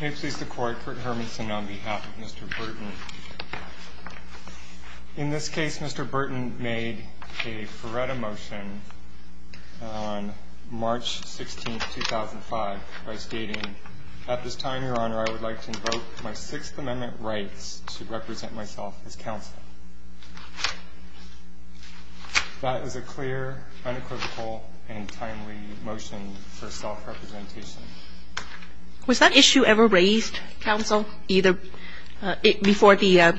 May it please the Court, Kurt Hermanson on behalf of Mr. Burton. In this case, Mr. Burton made a Ferretta motion on March 16, 2005 by stating, At this time, Your Honor, I would like to invoke my Sixth Amendment rights to represent myself as Counselor. That is a clear, unequivocal, and timely motion for self-representation. Was that issue ever raised, Counsel, before the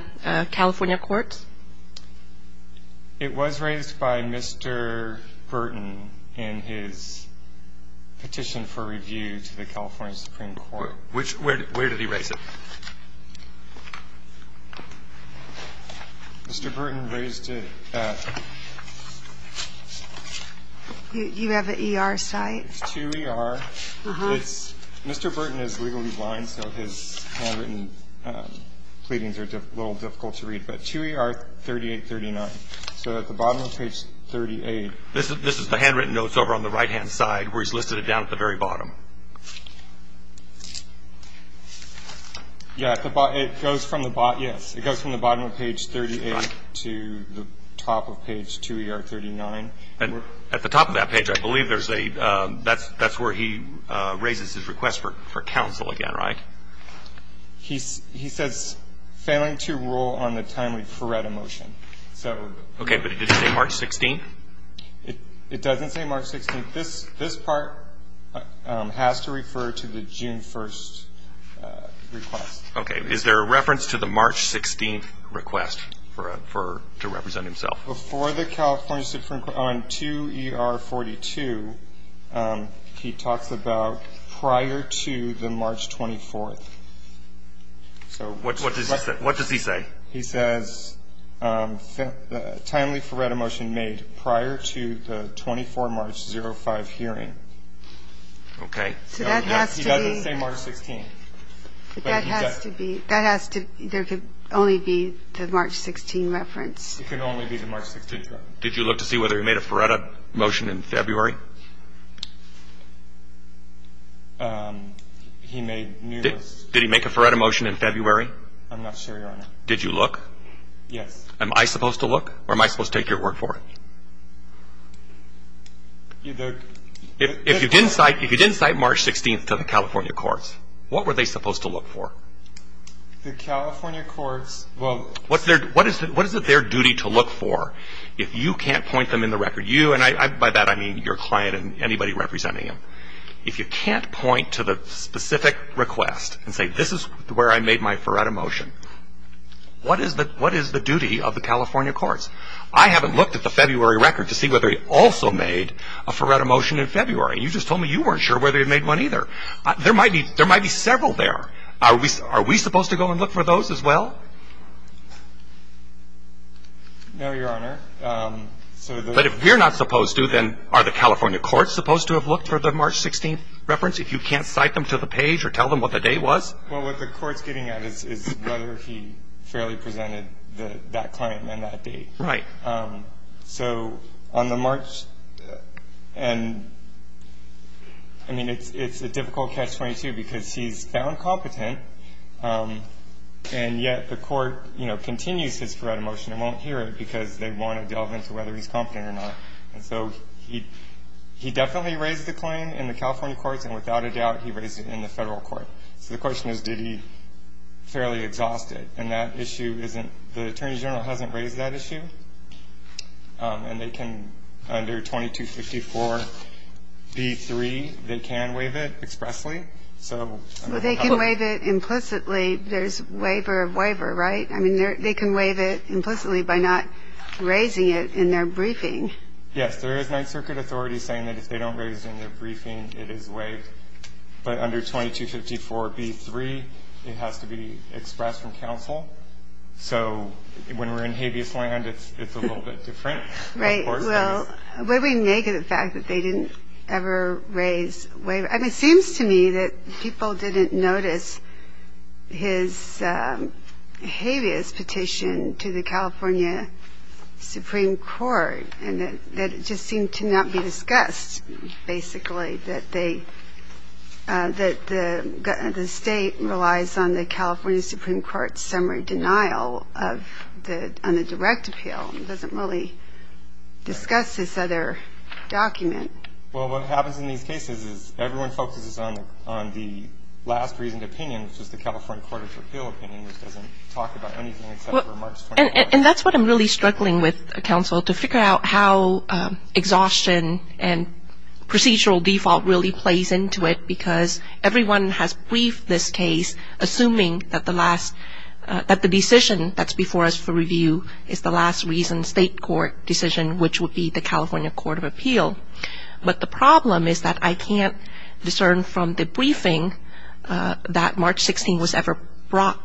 California courts? It was raised by Mr. Burton in his petition for review to the California Supreme Court. Where did he raise it? Mr. Burton raised it at You have an ER site? It's 2ER. Mr. Burton is legally blind, so his handwritten pleadings are a little difficult to read. But 2ER 3839. So at the bottom of page 38 This is the handwritten notes over on the right-hand side where he's listed it down at the very bottom. Yeah, it goes from the bottom of page 38 to the top of page 2ER39. At the top of that page, I believe that's where he raises his request for counsel again, right? He says, Failing to rule on the timely Ferretta motion. Okay, but did it say March 16? It doesn't say March 16. This part has to refer to the June 1st request. Okay. Is there a reference to the March 16th request to represent himself? Before the California Supreme Court, on 2ER 42, he talks about prior to the March 24th. What does he say? He says, Timely Ferretta motion made prior to the 24 March 05 hearing. Okay. So that has to be He doesn't say March 16. But that has to be That has to There can only be the March 16 reference. It can only be the March 16 reference. Did you look to see whether he made a Ferretta motion in February? Did he make a Ferretta motion in February? I'm not sure, Your Honor. Did you look? Yes. Am I supposed to look or am I supposed to take your word for it? If you didn't cite March 16th to the California courts, what were they supposed to look for? The California courts What is it their duty to look for if you can't point them in the record? You and by that I mean your client and anybody representing him. If you can't point to the specific request and say this is where I made my Ferretta motion, what is the duty of the California courts? I haven't looked at the February record to see whether he also made a Ferretta motion in February. You just told me you weren't sure whether he made one either. There might be several there. Are we supposed to go and look for those as well? No, Your Honor. But if we're not supposed to, then are the California courts supposed to have looked for the March 16th reference if you can't cite them to the page or tell them what the day was? Well, what the court's getting at is whether he fairly presented that client and that date. Right. So on the March and I mean, it's a difficult catch-22 because he's found competent, and yet the court, you know, doesn't want to delve into whether he's competent or not. And so he definitely raised the claim in the California courts, and without a doubt, he raised it in the federal court. So the question is, did he fairly exhaust it? And that issue isn't the Attorney General hasn't raised that issue, and they can under 2254B3, they can waive it expressly. So they can waive it implicitly. There's waiver of waiver, right? I mean, they can waive it implicitly by not raising it in their briefing. Yes, there is Ninth Circuit authority saying that if they don't raise it in their briefing, it is waived. But under 2254B3, it has to be expressed from counsel. So when we're in habeas land, it's a little bit different. Right. Well, would we make it a fact that they didn't ever raise waiver? I mean, it seems to me that people didn't notice his habeas petition to the California Supreme Court, and that it just seemed to not be discussed, basically, that the state relies on the California Supreme Court's summary denial on the direct appeal. It doesn't really discuss this other document. Well, what happens in these cases is everyone focuses on the last reasoned opinion, which is the California Court of Appeal opinion, which doesn't talk about anything except for March 21st. And that's what I'm really struggling with, counsel, to figure out how exhaustion and procedural default really plays into it, because everyone has briefed this case assuming that the decision that's before us for review is the last reasoned state court decision, which would be the California Court of Appeal. But the problem is that I can't discern from the briefing that March 16th was ever brought,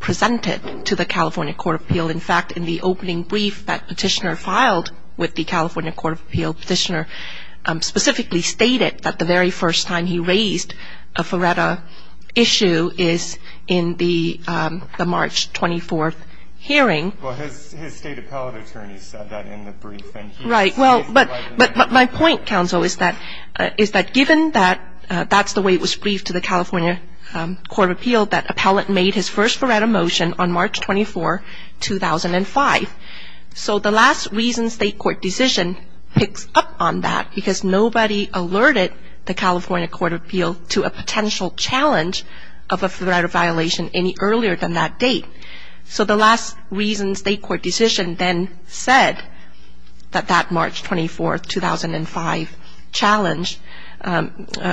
presented to the California Court of Appeal. In fact, in the opening brief that Petitioner filed with the California Court of Appeal, Petitioner specifically stated that the very first time he raised a FARETA issue is in the March 24th hearing. Well, his state appellate attorney said that in the briefing. Right. But my point, counsel, is that given that that's the way it was briefed to the California Court of Appeal, that appellate made his first FARETA motion on March 24, 2005. So the last reasoned state court decision picks up on that because nobody alerted the California Court of Appeal to a potential challenge of a FARETA violation any earlier than that date. So the last reasoned state court decision then said that that March 24, 2005 challenge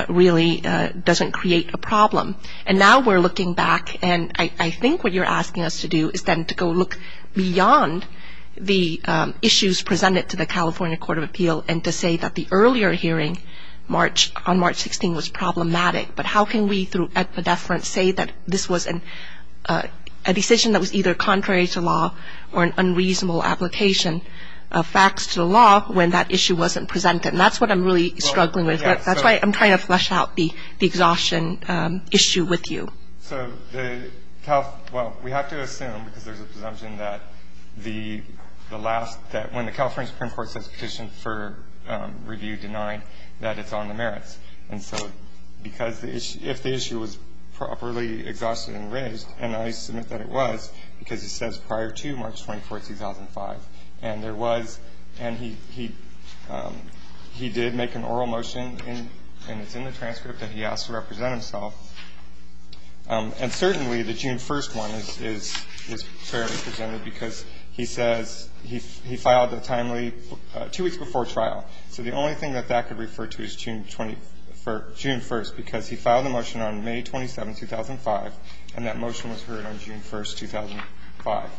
really doesn't create a problem. And now we're looking back, and I think what you're asking us to do is then to go look beyond the issues presented to the California Court of Appeal and to say that the earlier hearing on March 16th was problematic. But how can we through a deference say that this was a decision that was either contrary to law or an unreasonable application of facts to the law when that issue wasn't presented? And that's what I'm really struggling with. That's why I'm trying to flesh out the exhaustion issue with you. So the Cal – well, we have to assume because there's a presumption that the last – that when the California Supreme Court says petition for review denied, that it's on the merits. And so because if the issue was properly exhausted and raised, and I submit that it was because it says prior to March 24, 2005, and there was – and he did make an oral motion and it's in the transcript that he asked to represent himself. And certainly the June 1st one is fairly presented because he says he filed a timely – two weeks before trial. So the only thing that that could refer to is June 1st because he filed a motion on May 27, 2005, and that motion was heard on June 1, 2005.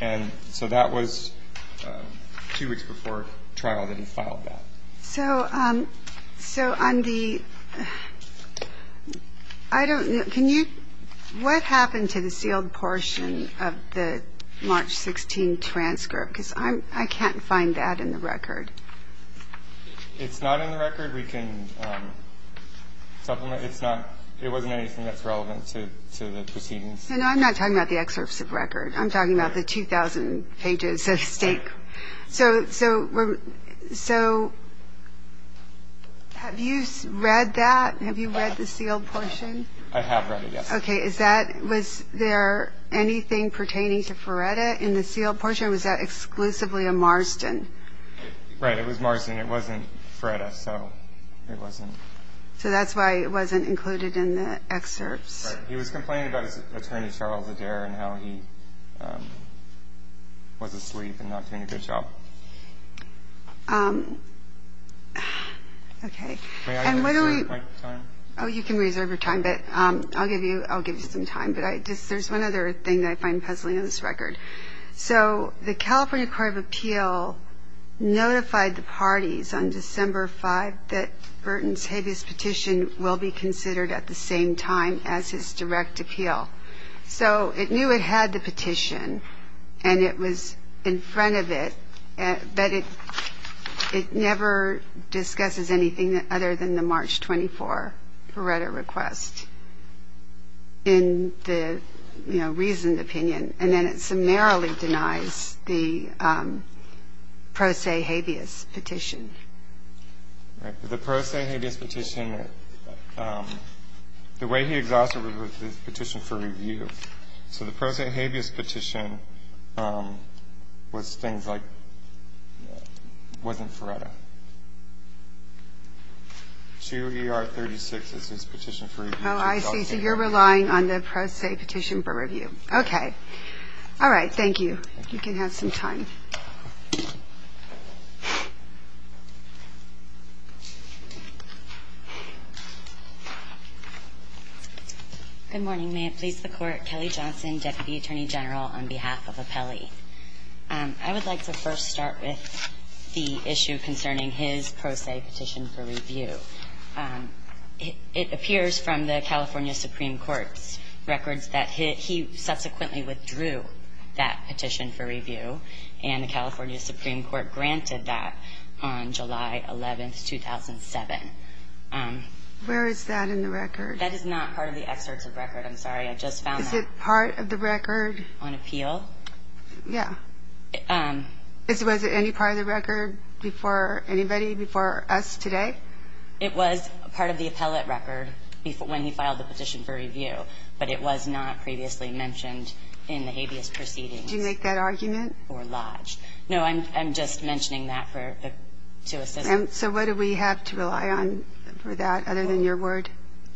And so that was two weeks before trial that he filed that. So on the – I don't – can you – what happened to the sealed portion of the March 16 transcript? Because I can't find that in the record. It's not in the record. We can supplement. It's not – it wasn't anything that's relevant to the proceedings. No, no, I'm not talking about the excerpts of record. I'm talking about the 2,000 pages at stake. So have you read that? Have you read the sealed portion? I have read it, yes. Okay. Is that – was there anything pertaining to Ferretta in the sealed portion? Or was that exclusively a Marston? Right, it was Marston. It wasn't Ferretta, so it wasn't – So that's why it wasn't included in the excerpts. Right. He was complaining about his attorney, Charles Adair, and how he was asleep and not doing a good job. Okay. May I reserve my time? Oh, you can reserve your time, but I'll give you some time. But I just – there's one other thing I find puzzling in this record. So the California Court of Appeal notified the parties on December 5th that Burton's habeas petition will be considered at the same time as his direct appeal. So it knew it had the petition, and it was in front of it, but it never discusses anything other than the March 24 Ferretta request in the, you know, reasoned opinion. And then it summarily denies the pro se habeas petition. Right. The pro se habeas petition – the way he exhausted it was his petition for review. So the pro se habeas petition was things like – wasn't Ferretta. 2ER36 is his petition for review. Oh, I see. So you're relying on the pro se petition for review. Okay. All right. Thank you. You can have some time. Good morning. May it please the Court. Kelly Johnson, Deputy Attorney General on behalf of Apelli. I would like to first start with the issue concerning his pro se petition for review. It appears from the California Supreme Court's records that he subsequently withdrew that petition for review, and the California Supreme Court granted that on July 11, 2007. Where is that in the record? That is not part of the excerpt of the record. I'm sorry. I just found that. Is it part of the record? On appeal? Yeah. Was it any part of the record before anybody, before us today? It was part of the appellate record when he filed the petition for review, but it was not previously mentioned in the habeas proceedings. Did you make that argument? Or lodged. No, I'm just mentioning that to assist. So what do we have to rely on for that other than your word?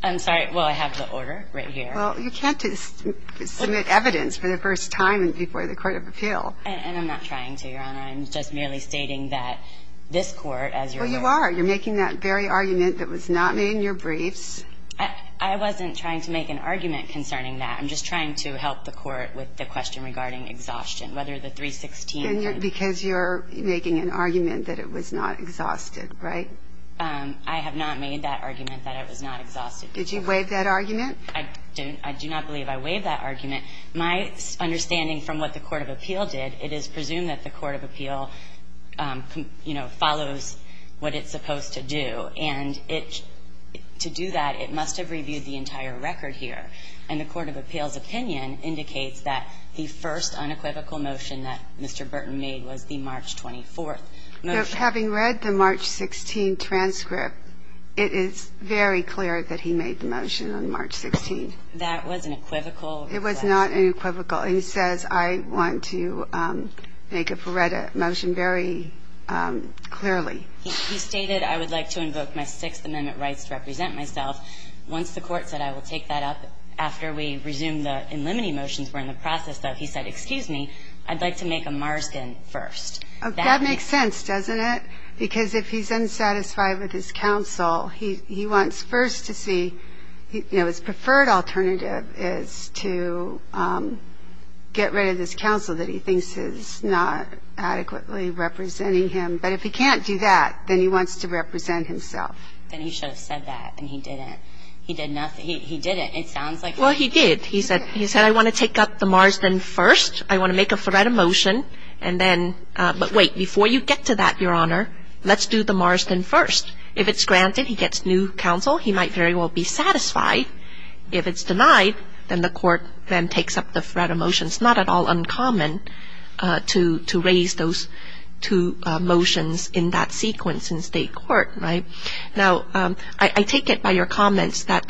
I'm sorry. Well, I have the order right here. Well, you can't submit evidence for the first time before the court of appeal. And I'm not trying to, Your Honor. I'm just merely stating that this court, as you're aware. Well, you are. You're making that very argument that was not made in your briefs. I wasn't trying to make an argument concerning that. I'm just trying to help the court with the question regarding exhaustion, whether the 316. Because you're making an argument that it was not exhausted, right? I have not made that argument that it was not exhausted. Did you waive that argument? I do not believe I waived that argument. And my understanding from what the court of appeal did, it is presumed that the court of appeal, you know, follows what it's supposed to do. And to do that, it must have reviewed the entire record here. And the court of appeal's opinion indicates that the first unequivocal motion that Mr. Burton made was the March 24th motion. But having read the March 16 transcript, it is very clear that he made the motion on March 16. That was an equivocal motion. It was not unequivocal. He says, I want to make a Feretta motion very clearly. He stated, I would like to invoke my Sixth Amendment rights to represent myself. Once the court said, I will take that up after we resume the in limine motions we're in the process of, he said, excuse me, I'd like to make a Marsden first. That makes sense, doesn't it? Because if he's unsatisfied with his counsel, he wants first to see, you know, his counsel. He wants to get rid of his counsel that he thinks is not adequately representing him. But if he can't do that, then he wants to represent himself. Then he should have said that, and he didn't. He did nothing. He didn't. It sounds like he did. Well, he did. He said, I want to take up the Marsden first. I want to make a Feretta motion. And then, but wait, before you get to that, Your Honor, let's do the Marsden first. If it's granted, he gets new counsel. He might very well be satisfied. If it's denied, then the court then takes up the Feretta motion. It's not at all uncommon to raise those two motions in that sequence in state court, right? Now, I take it by your comments that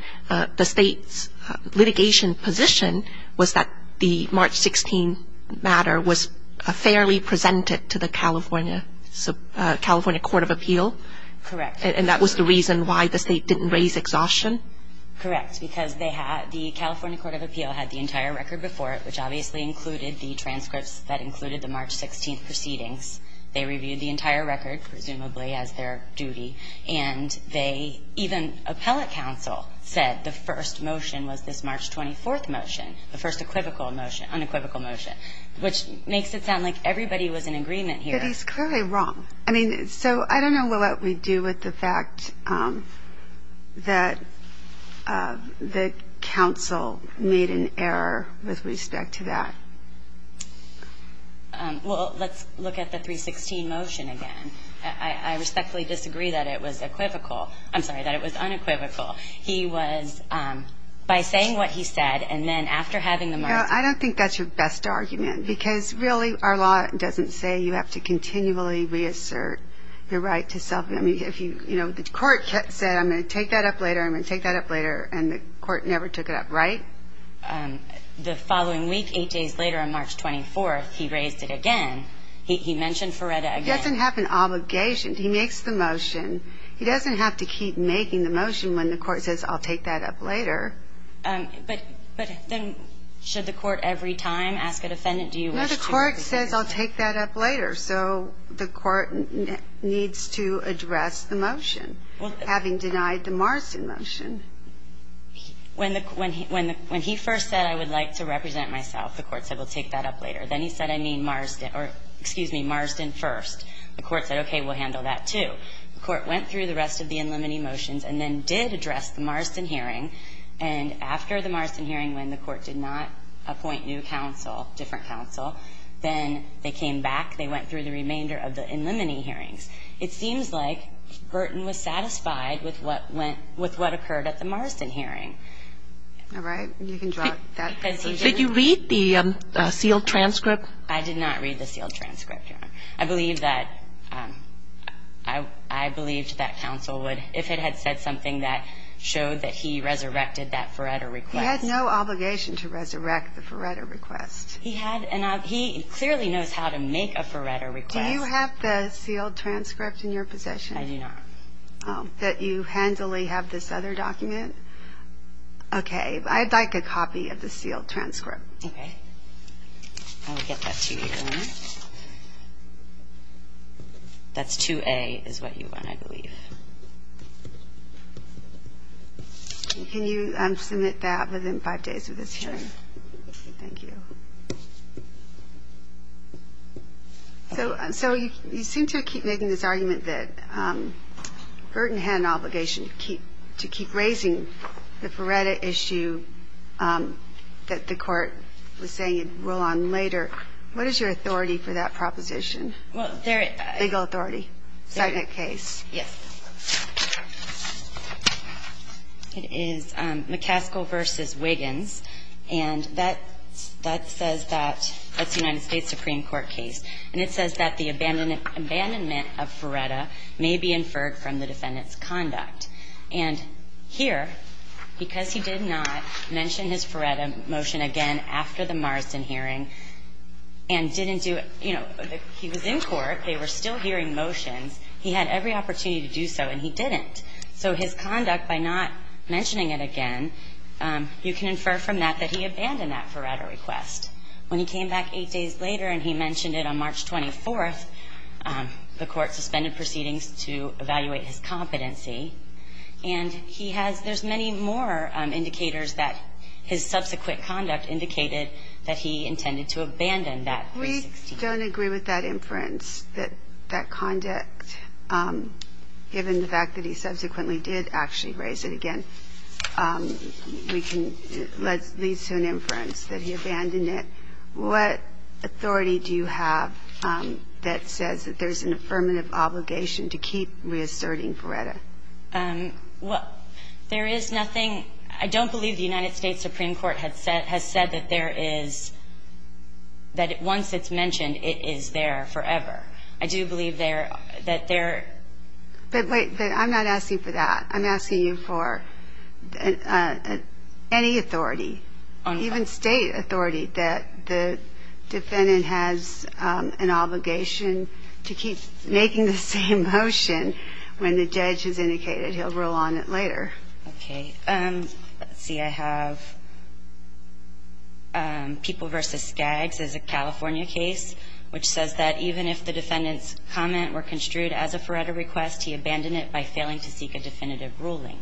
the state's litigation position was that the March 16 matter was fairly presented to the California Court of Appeal. Correct. And that was the reason why the state didn't raise exhaustion? Correct, because the California Court of Appeal had the entire record before it, which obviously included the transcripts that included the March 16 proceedings. They reviewed the entire record, presumably, as their duty. And they, even appellate counsel, said the first motion was this March 24 motion, the first unequivocal motion, which makes it sound like everybody was in agreement here. But he's clearly wrong. I mean, so I don't know what we do with the fact that the counsel made an error with respect to that. Well, let's look at the March 16 motion again. I respectfully disagree that it was unequivocal. He was, by saying what he said and then after having the motion. You know, I don't think that's your best argument, because, really, our law doesn't say you have to continually reassert your right to self-determination. You know, the court said, I'm going to take that up later, I'm going to take that up later, and the court never took it up, right? The following week, eight days later, on March 24th, he raised it again. He mentioned Feretta again. He doesn't have an obligation. He makes the motion. He doesn't have to keep making the motion when the court says, I'll take that up later. But then should the court every time ask a defendant, do you wish to make the motion? No. The court says, I'll take that up later. So the court needs to address the motion, having denied the Marsden motion. When he first said, I would like to represent myself, the court said, we'll take that up later. Then he said, I mean Marsden or, excuse me, Marsden first. The court said, okay, we'll handle that, too. The court went through the rest of the in limine motions and then did address the Marsden hearing. And after the Marsden hearing, when the court did not appoint new counsel, different counsel, then they came back. They went through the remainder of the in limine hearings. It seems like Burton was satisfied with what went, with what occurred at the Marsden hearing. All right. You can drop that. Did you read the sealed transcript? I did not read the sealed transcript, Your Honor. I believe that, I believed that counsel would, if it had said something that showed that he resurrected that Feretta request. He had no obligation to resurrect the Feretta request. He had, and he clearly knows how to make a Feretta request. Do you have the sealed transcript in your possession? I do not. That you handily have this other document? Okay. I'd like a copy of the sealed transcript. Okay. I will get that to you, Your Honor. That's 2A is what you want, I believe. Can you submit that within five days of this hearing? Sure. Thank you. So you seem to keep making this argument that Burton had an obligation to keep, to keep the Feretta issue that the court was saying he'd rule on later. What is your authority for that proposition? Well, there is legal authority. Second case. Yes. It is McCaskill v. Wiggins. And that says that, that's a United States Supreme Court case. And it says that the abandonment of Feretta may be inferred from the defendant's conduct. And here, because he did not mention his Feretta motion again after the Morrison hearing and didn't do it, you know, he was in court. They were still hearing motions. He had every opportunity to do so, and he didn't. So his conduct by not mentioning it again, you can infer from that that he abandoned that Feretta request. When he came back eight days later and he mentioned it on March 24th, the court suspended proceedings to evaluate his competency. And he has – there's many more indicators that his subsequent conduct indicated that he intended to abandon that request. We don't agree with that inference, that that conduct, given the fact that he subsequently did actually raise it again, we can – leads to an inference that he abandoned it. What authority do you have that says that there's an affirmative obligation to keep reasserting Feretta? Well, there is nothing – I don't believe the United States Supreme Court has said that there is – that once it's mentioned, it is there forever. I do believe there – that there – But wait. I'm not asking for that. I'm asking you for any authority, even State authority, that the defendant has an obligation to keep making the same motion when the judge has indicated he'll rule on it later. Okay. Let's see. I have People v. Skaggs is a California case, which says that even if the defendant's comment were construed as a Feretta request, he abandoned it by failing to seek a definitive ruling.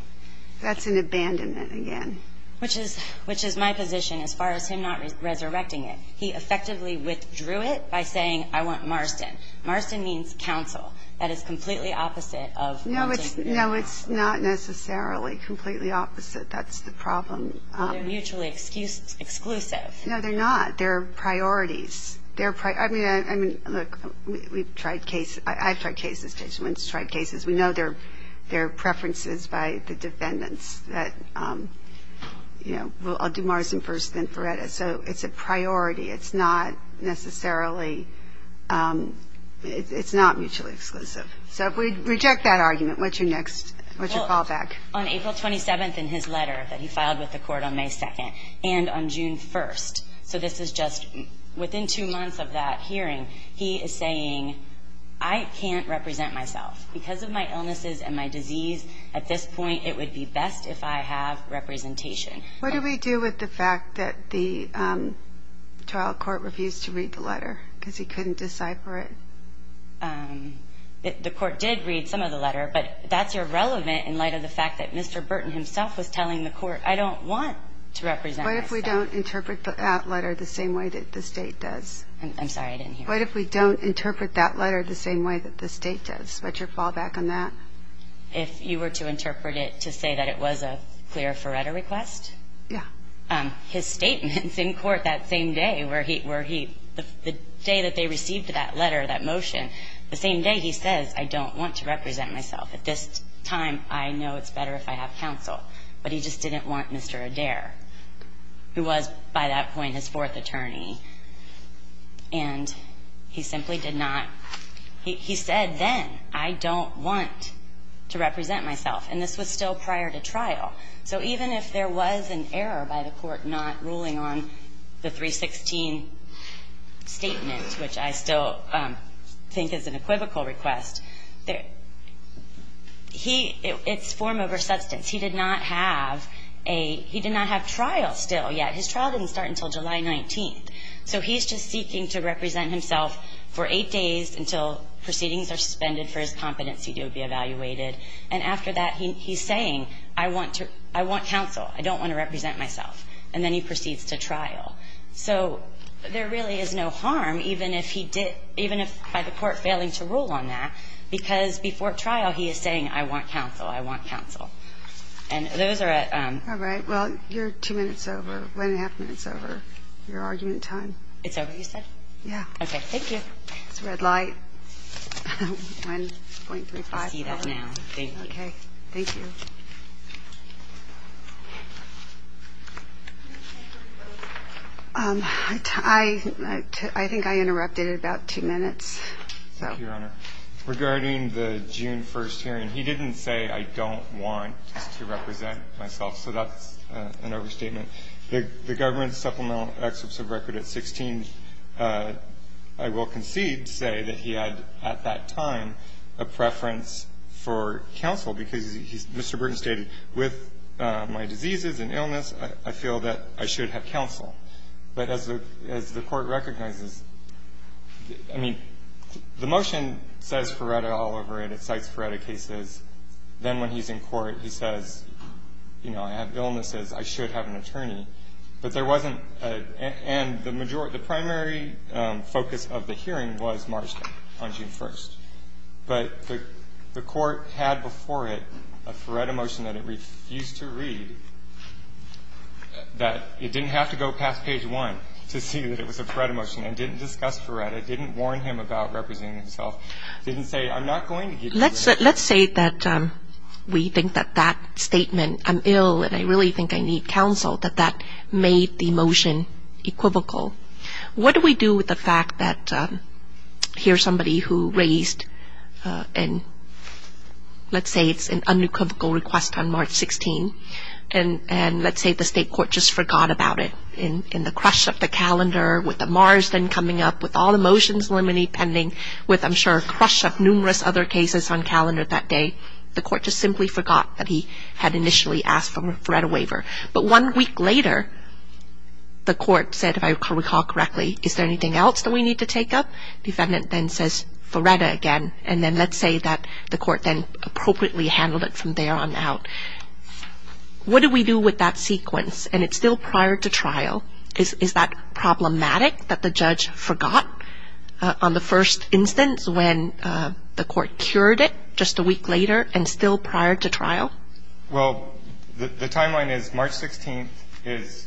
That's an abandonment again. Which is – which is my position as far as him not resurrecting it. He effectively withdrew it by saying, I want Marston. Marston means counsel. That is completely opposite of – No, it's – no, it's not necessarily completely opposite. That's the problem. They're mutually exclusive. No, they're not. They're priorities. They're – I mean, I mean, look, we've tried cases – I've tried cases, we've tried cases. We know there are preferences by the defendants that, you know, I'll do Marston first, then Feretta. So it's a priority. It's not necessarily – it's not mutually exclusive. So if we reject that argument, what's your next – what's your callback? Well, on April 27th in his letter that he filed with the Court on May 2nd and on June 1st, so this is just within two months of that hearing, he is saying, I can't represent myself because of my illnesses and my disease. At this point, it would be best if I have representation. What do we do with the fact that the trial court refused to read the letter because he couldn't decipher it? The court did read some of the letter, but that's irrelevant in light of the fact that Mr. Burton himself was telling the court, I don't want to represent myself. What if we don't interpret that letter the same way that the State does? I'm sorry, I didn't hear you. What if we don't interpret that letter the same way that the State does? What's your fallback on that? If you were to interpret it to say that it was a clear Feretta request? Yeah. His statements in court that same day were he – the day that they received that letter, that motion, the same day he says, I don't want to represent myself. At this time, I know it's better if I have counsel. But he just didn't want Mr. Adair, who was by that point his fourth attorney. And he simply did not – he said then, I don't want to represent myself. And this was still prior to trial. So even if there was an error by the court not ruling on the 316 statement, which I still think is an equivocal request, he – it's form over substance. He did not have a – he did not have trial still yet. His trial didn't start until July 19th. So he's just seeking to represent himself for eight days until proceedings are suspended for his competency to be evaluated. And after that, he's saying, I want to – I want counsel. I don't want to represent myself. And then he proceeds to trial. So there really is no harm even if he did – even if by the court failing to rule on that, because before trial, he is saying, I want counsel. I want counsel. And those are a – All right. Well, you're two minutes over – one and a half minutes over your argument time. It's over, you said? Yeah. Okay. Thank you. It's a red light. 1.35. I see that now. Thank you. Okay. Thank you. I think I interrupted at about two minutes. Thank you, Your Honor. Regarding the June 1st hearing, he didn't say, I don't want to represent myself. So that's an overstatement. The government supplemental excerpts of record at 16, I will concede to say that he had at that time a preference for counsel, because Mr. Burton stated, with my diseases and illness, I feel that I should have counsel. But as the Court recognizes, I mean, the motion says Ferretta all over it. It cites Ferretta cases. Then when he's in court, he says, you know, I have illnesses, I should have an attorney. But there wasn't – and the majority – the primary focus of the hearing was March 10th, on June 1st. But the Court had before it a Ferretta motion that it refused to read, that it didn't have to go past page one to see that it was a Ferretta motion, and didn't discuss Ferretta, didn't warn him about representing himself, Let's say that we think that that statement, I'm ill and I really think I need counsel, that that made the motion equivocal. What do we do with the fact that here's somebody who raised, and let's say it's an unequivocal request on March 16th, and let's say the State Court just forgot about it in the crush of the calendar, with the Marsden coming up, with all the motions limiting, with, I'm sure, a crush of numerous other cases on calendar that day, the Court just simply forgot that he had initially asked for a Ferretta waiver. But one week later, the Court said, if I recall correctly, is there anything else that we need to take up? The defendant then says Ferretta again, and then let's say that the Court then appropriately handled it from there on out. What do we do with that sequence? And it's still prior to trial. Is that problematic, that the judge forgot on the first instance when the Court cured it just a week later and still prior to trial? Well, the timeline is March 16th is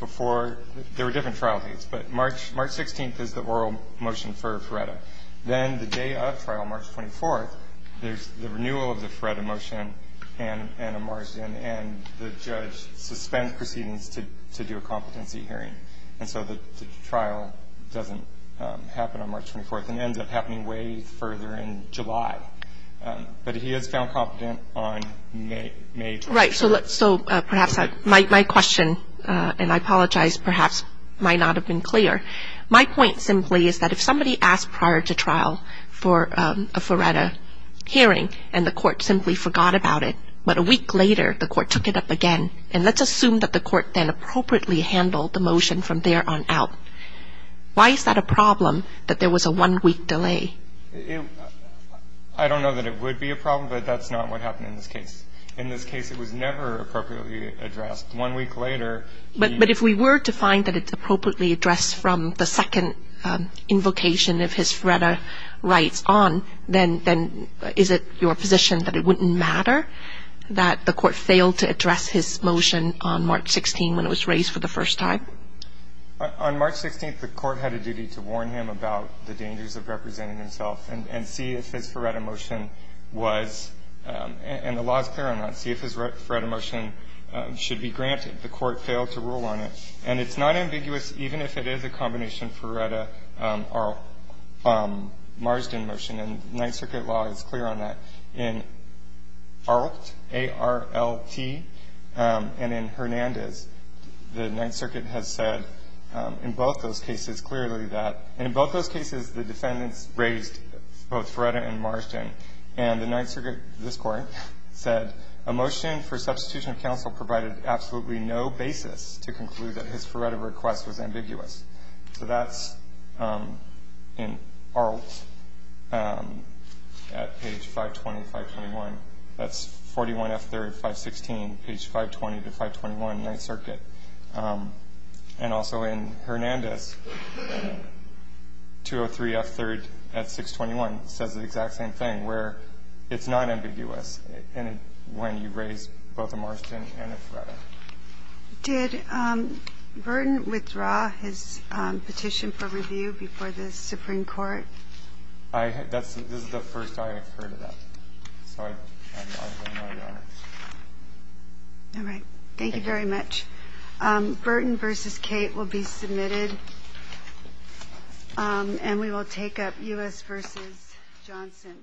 before. There were different trial dates, but March 16th is the oral motion for Ferretta. Then the day of trial, March 24th, there's the renewal of the Ferretta motion and a Marsden, and the judge suspends proceedings to do a competency hearing. And so the trial doesn't happen on March 24th and ends up happening way further in July. But he is found competent on May 24th. Right. So perhaps my question, and I apologize, perhaps might not have been clear. My point simply is that if somebody asked prior to trial for a Ferretta hearing and the Court simply forgot about it, but a week later the Court took it up again, and let's assume that the Court then appropriately handled the motion from there on out, why is that a problem that there was a one-week delay? I don't know that it would be a problem, but that's not what happened in this case. In this case, it was never appropriately addressed. One week later, the judge was found competent. But if we were to find that it's appropriately addressed from the second invocation of his Ferretta rights on, then is it your position that it wouldn't matter that the Court failed to address his motion on March 16th when it was raised for the first time? On March 16th, the Court had a duty to warn him about the dangers of representing himself and see if his Ferretta motion was, and the law is clear on that, see if his Ferretta motion should be granted. The Court failed to rule on it. And it's not ambiguous even if it is a combination Ferretta-Marsden motion, and Ninth Circuit law is clear on that. In Arlt, A-R-L-T, and in Hernandez, the Ninth Circuit has said in both those cases clearly that, in both those cases, the defendants raised both Ferretta and Marsden. And the Ninth Circuit, this Court, said a motion for substitution of counsel provided absolutely no basis to conclude that his Ferretta request was ambiguous. So that's in Arlt at page 520, 521. That's 41F3rd, 516, page 520 to 521, Ninth Circuit. And also in Hernandez, 203F3rd at 621, says the exact same thing, where it's not ambiguous when you raise both a Marsden and a Ferretta. Did Burton withdraw his petition for review before the Supreme Court? This is the first I have heard of that. So I don't know, Your Honor. All right. Thank you very much. Burton v. Kate will be submitted. And we will take up U.S. v. Johnson. Thank you.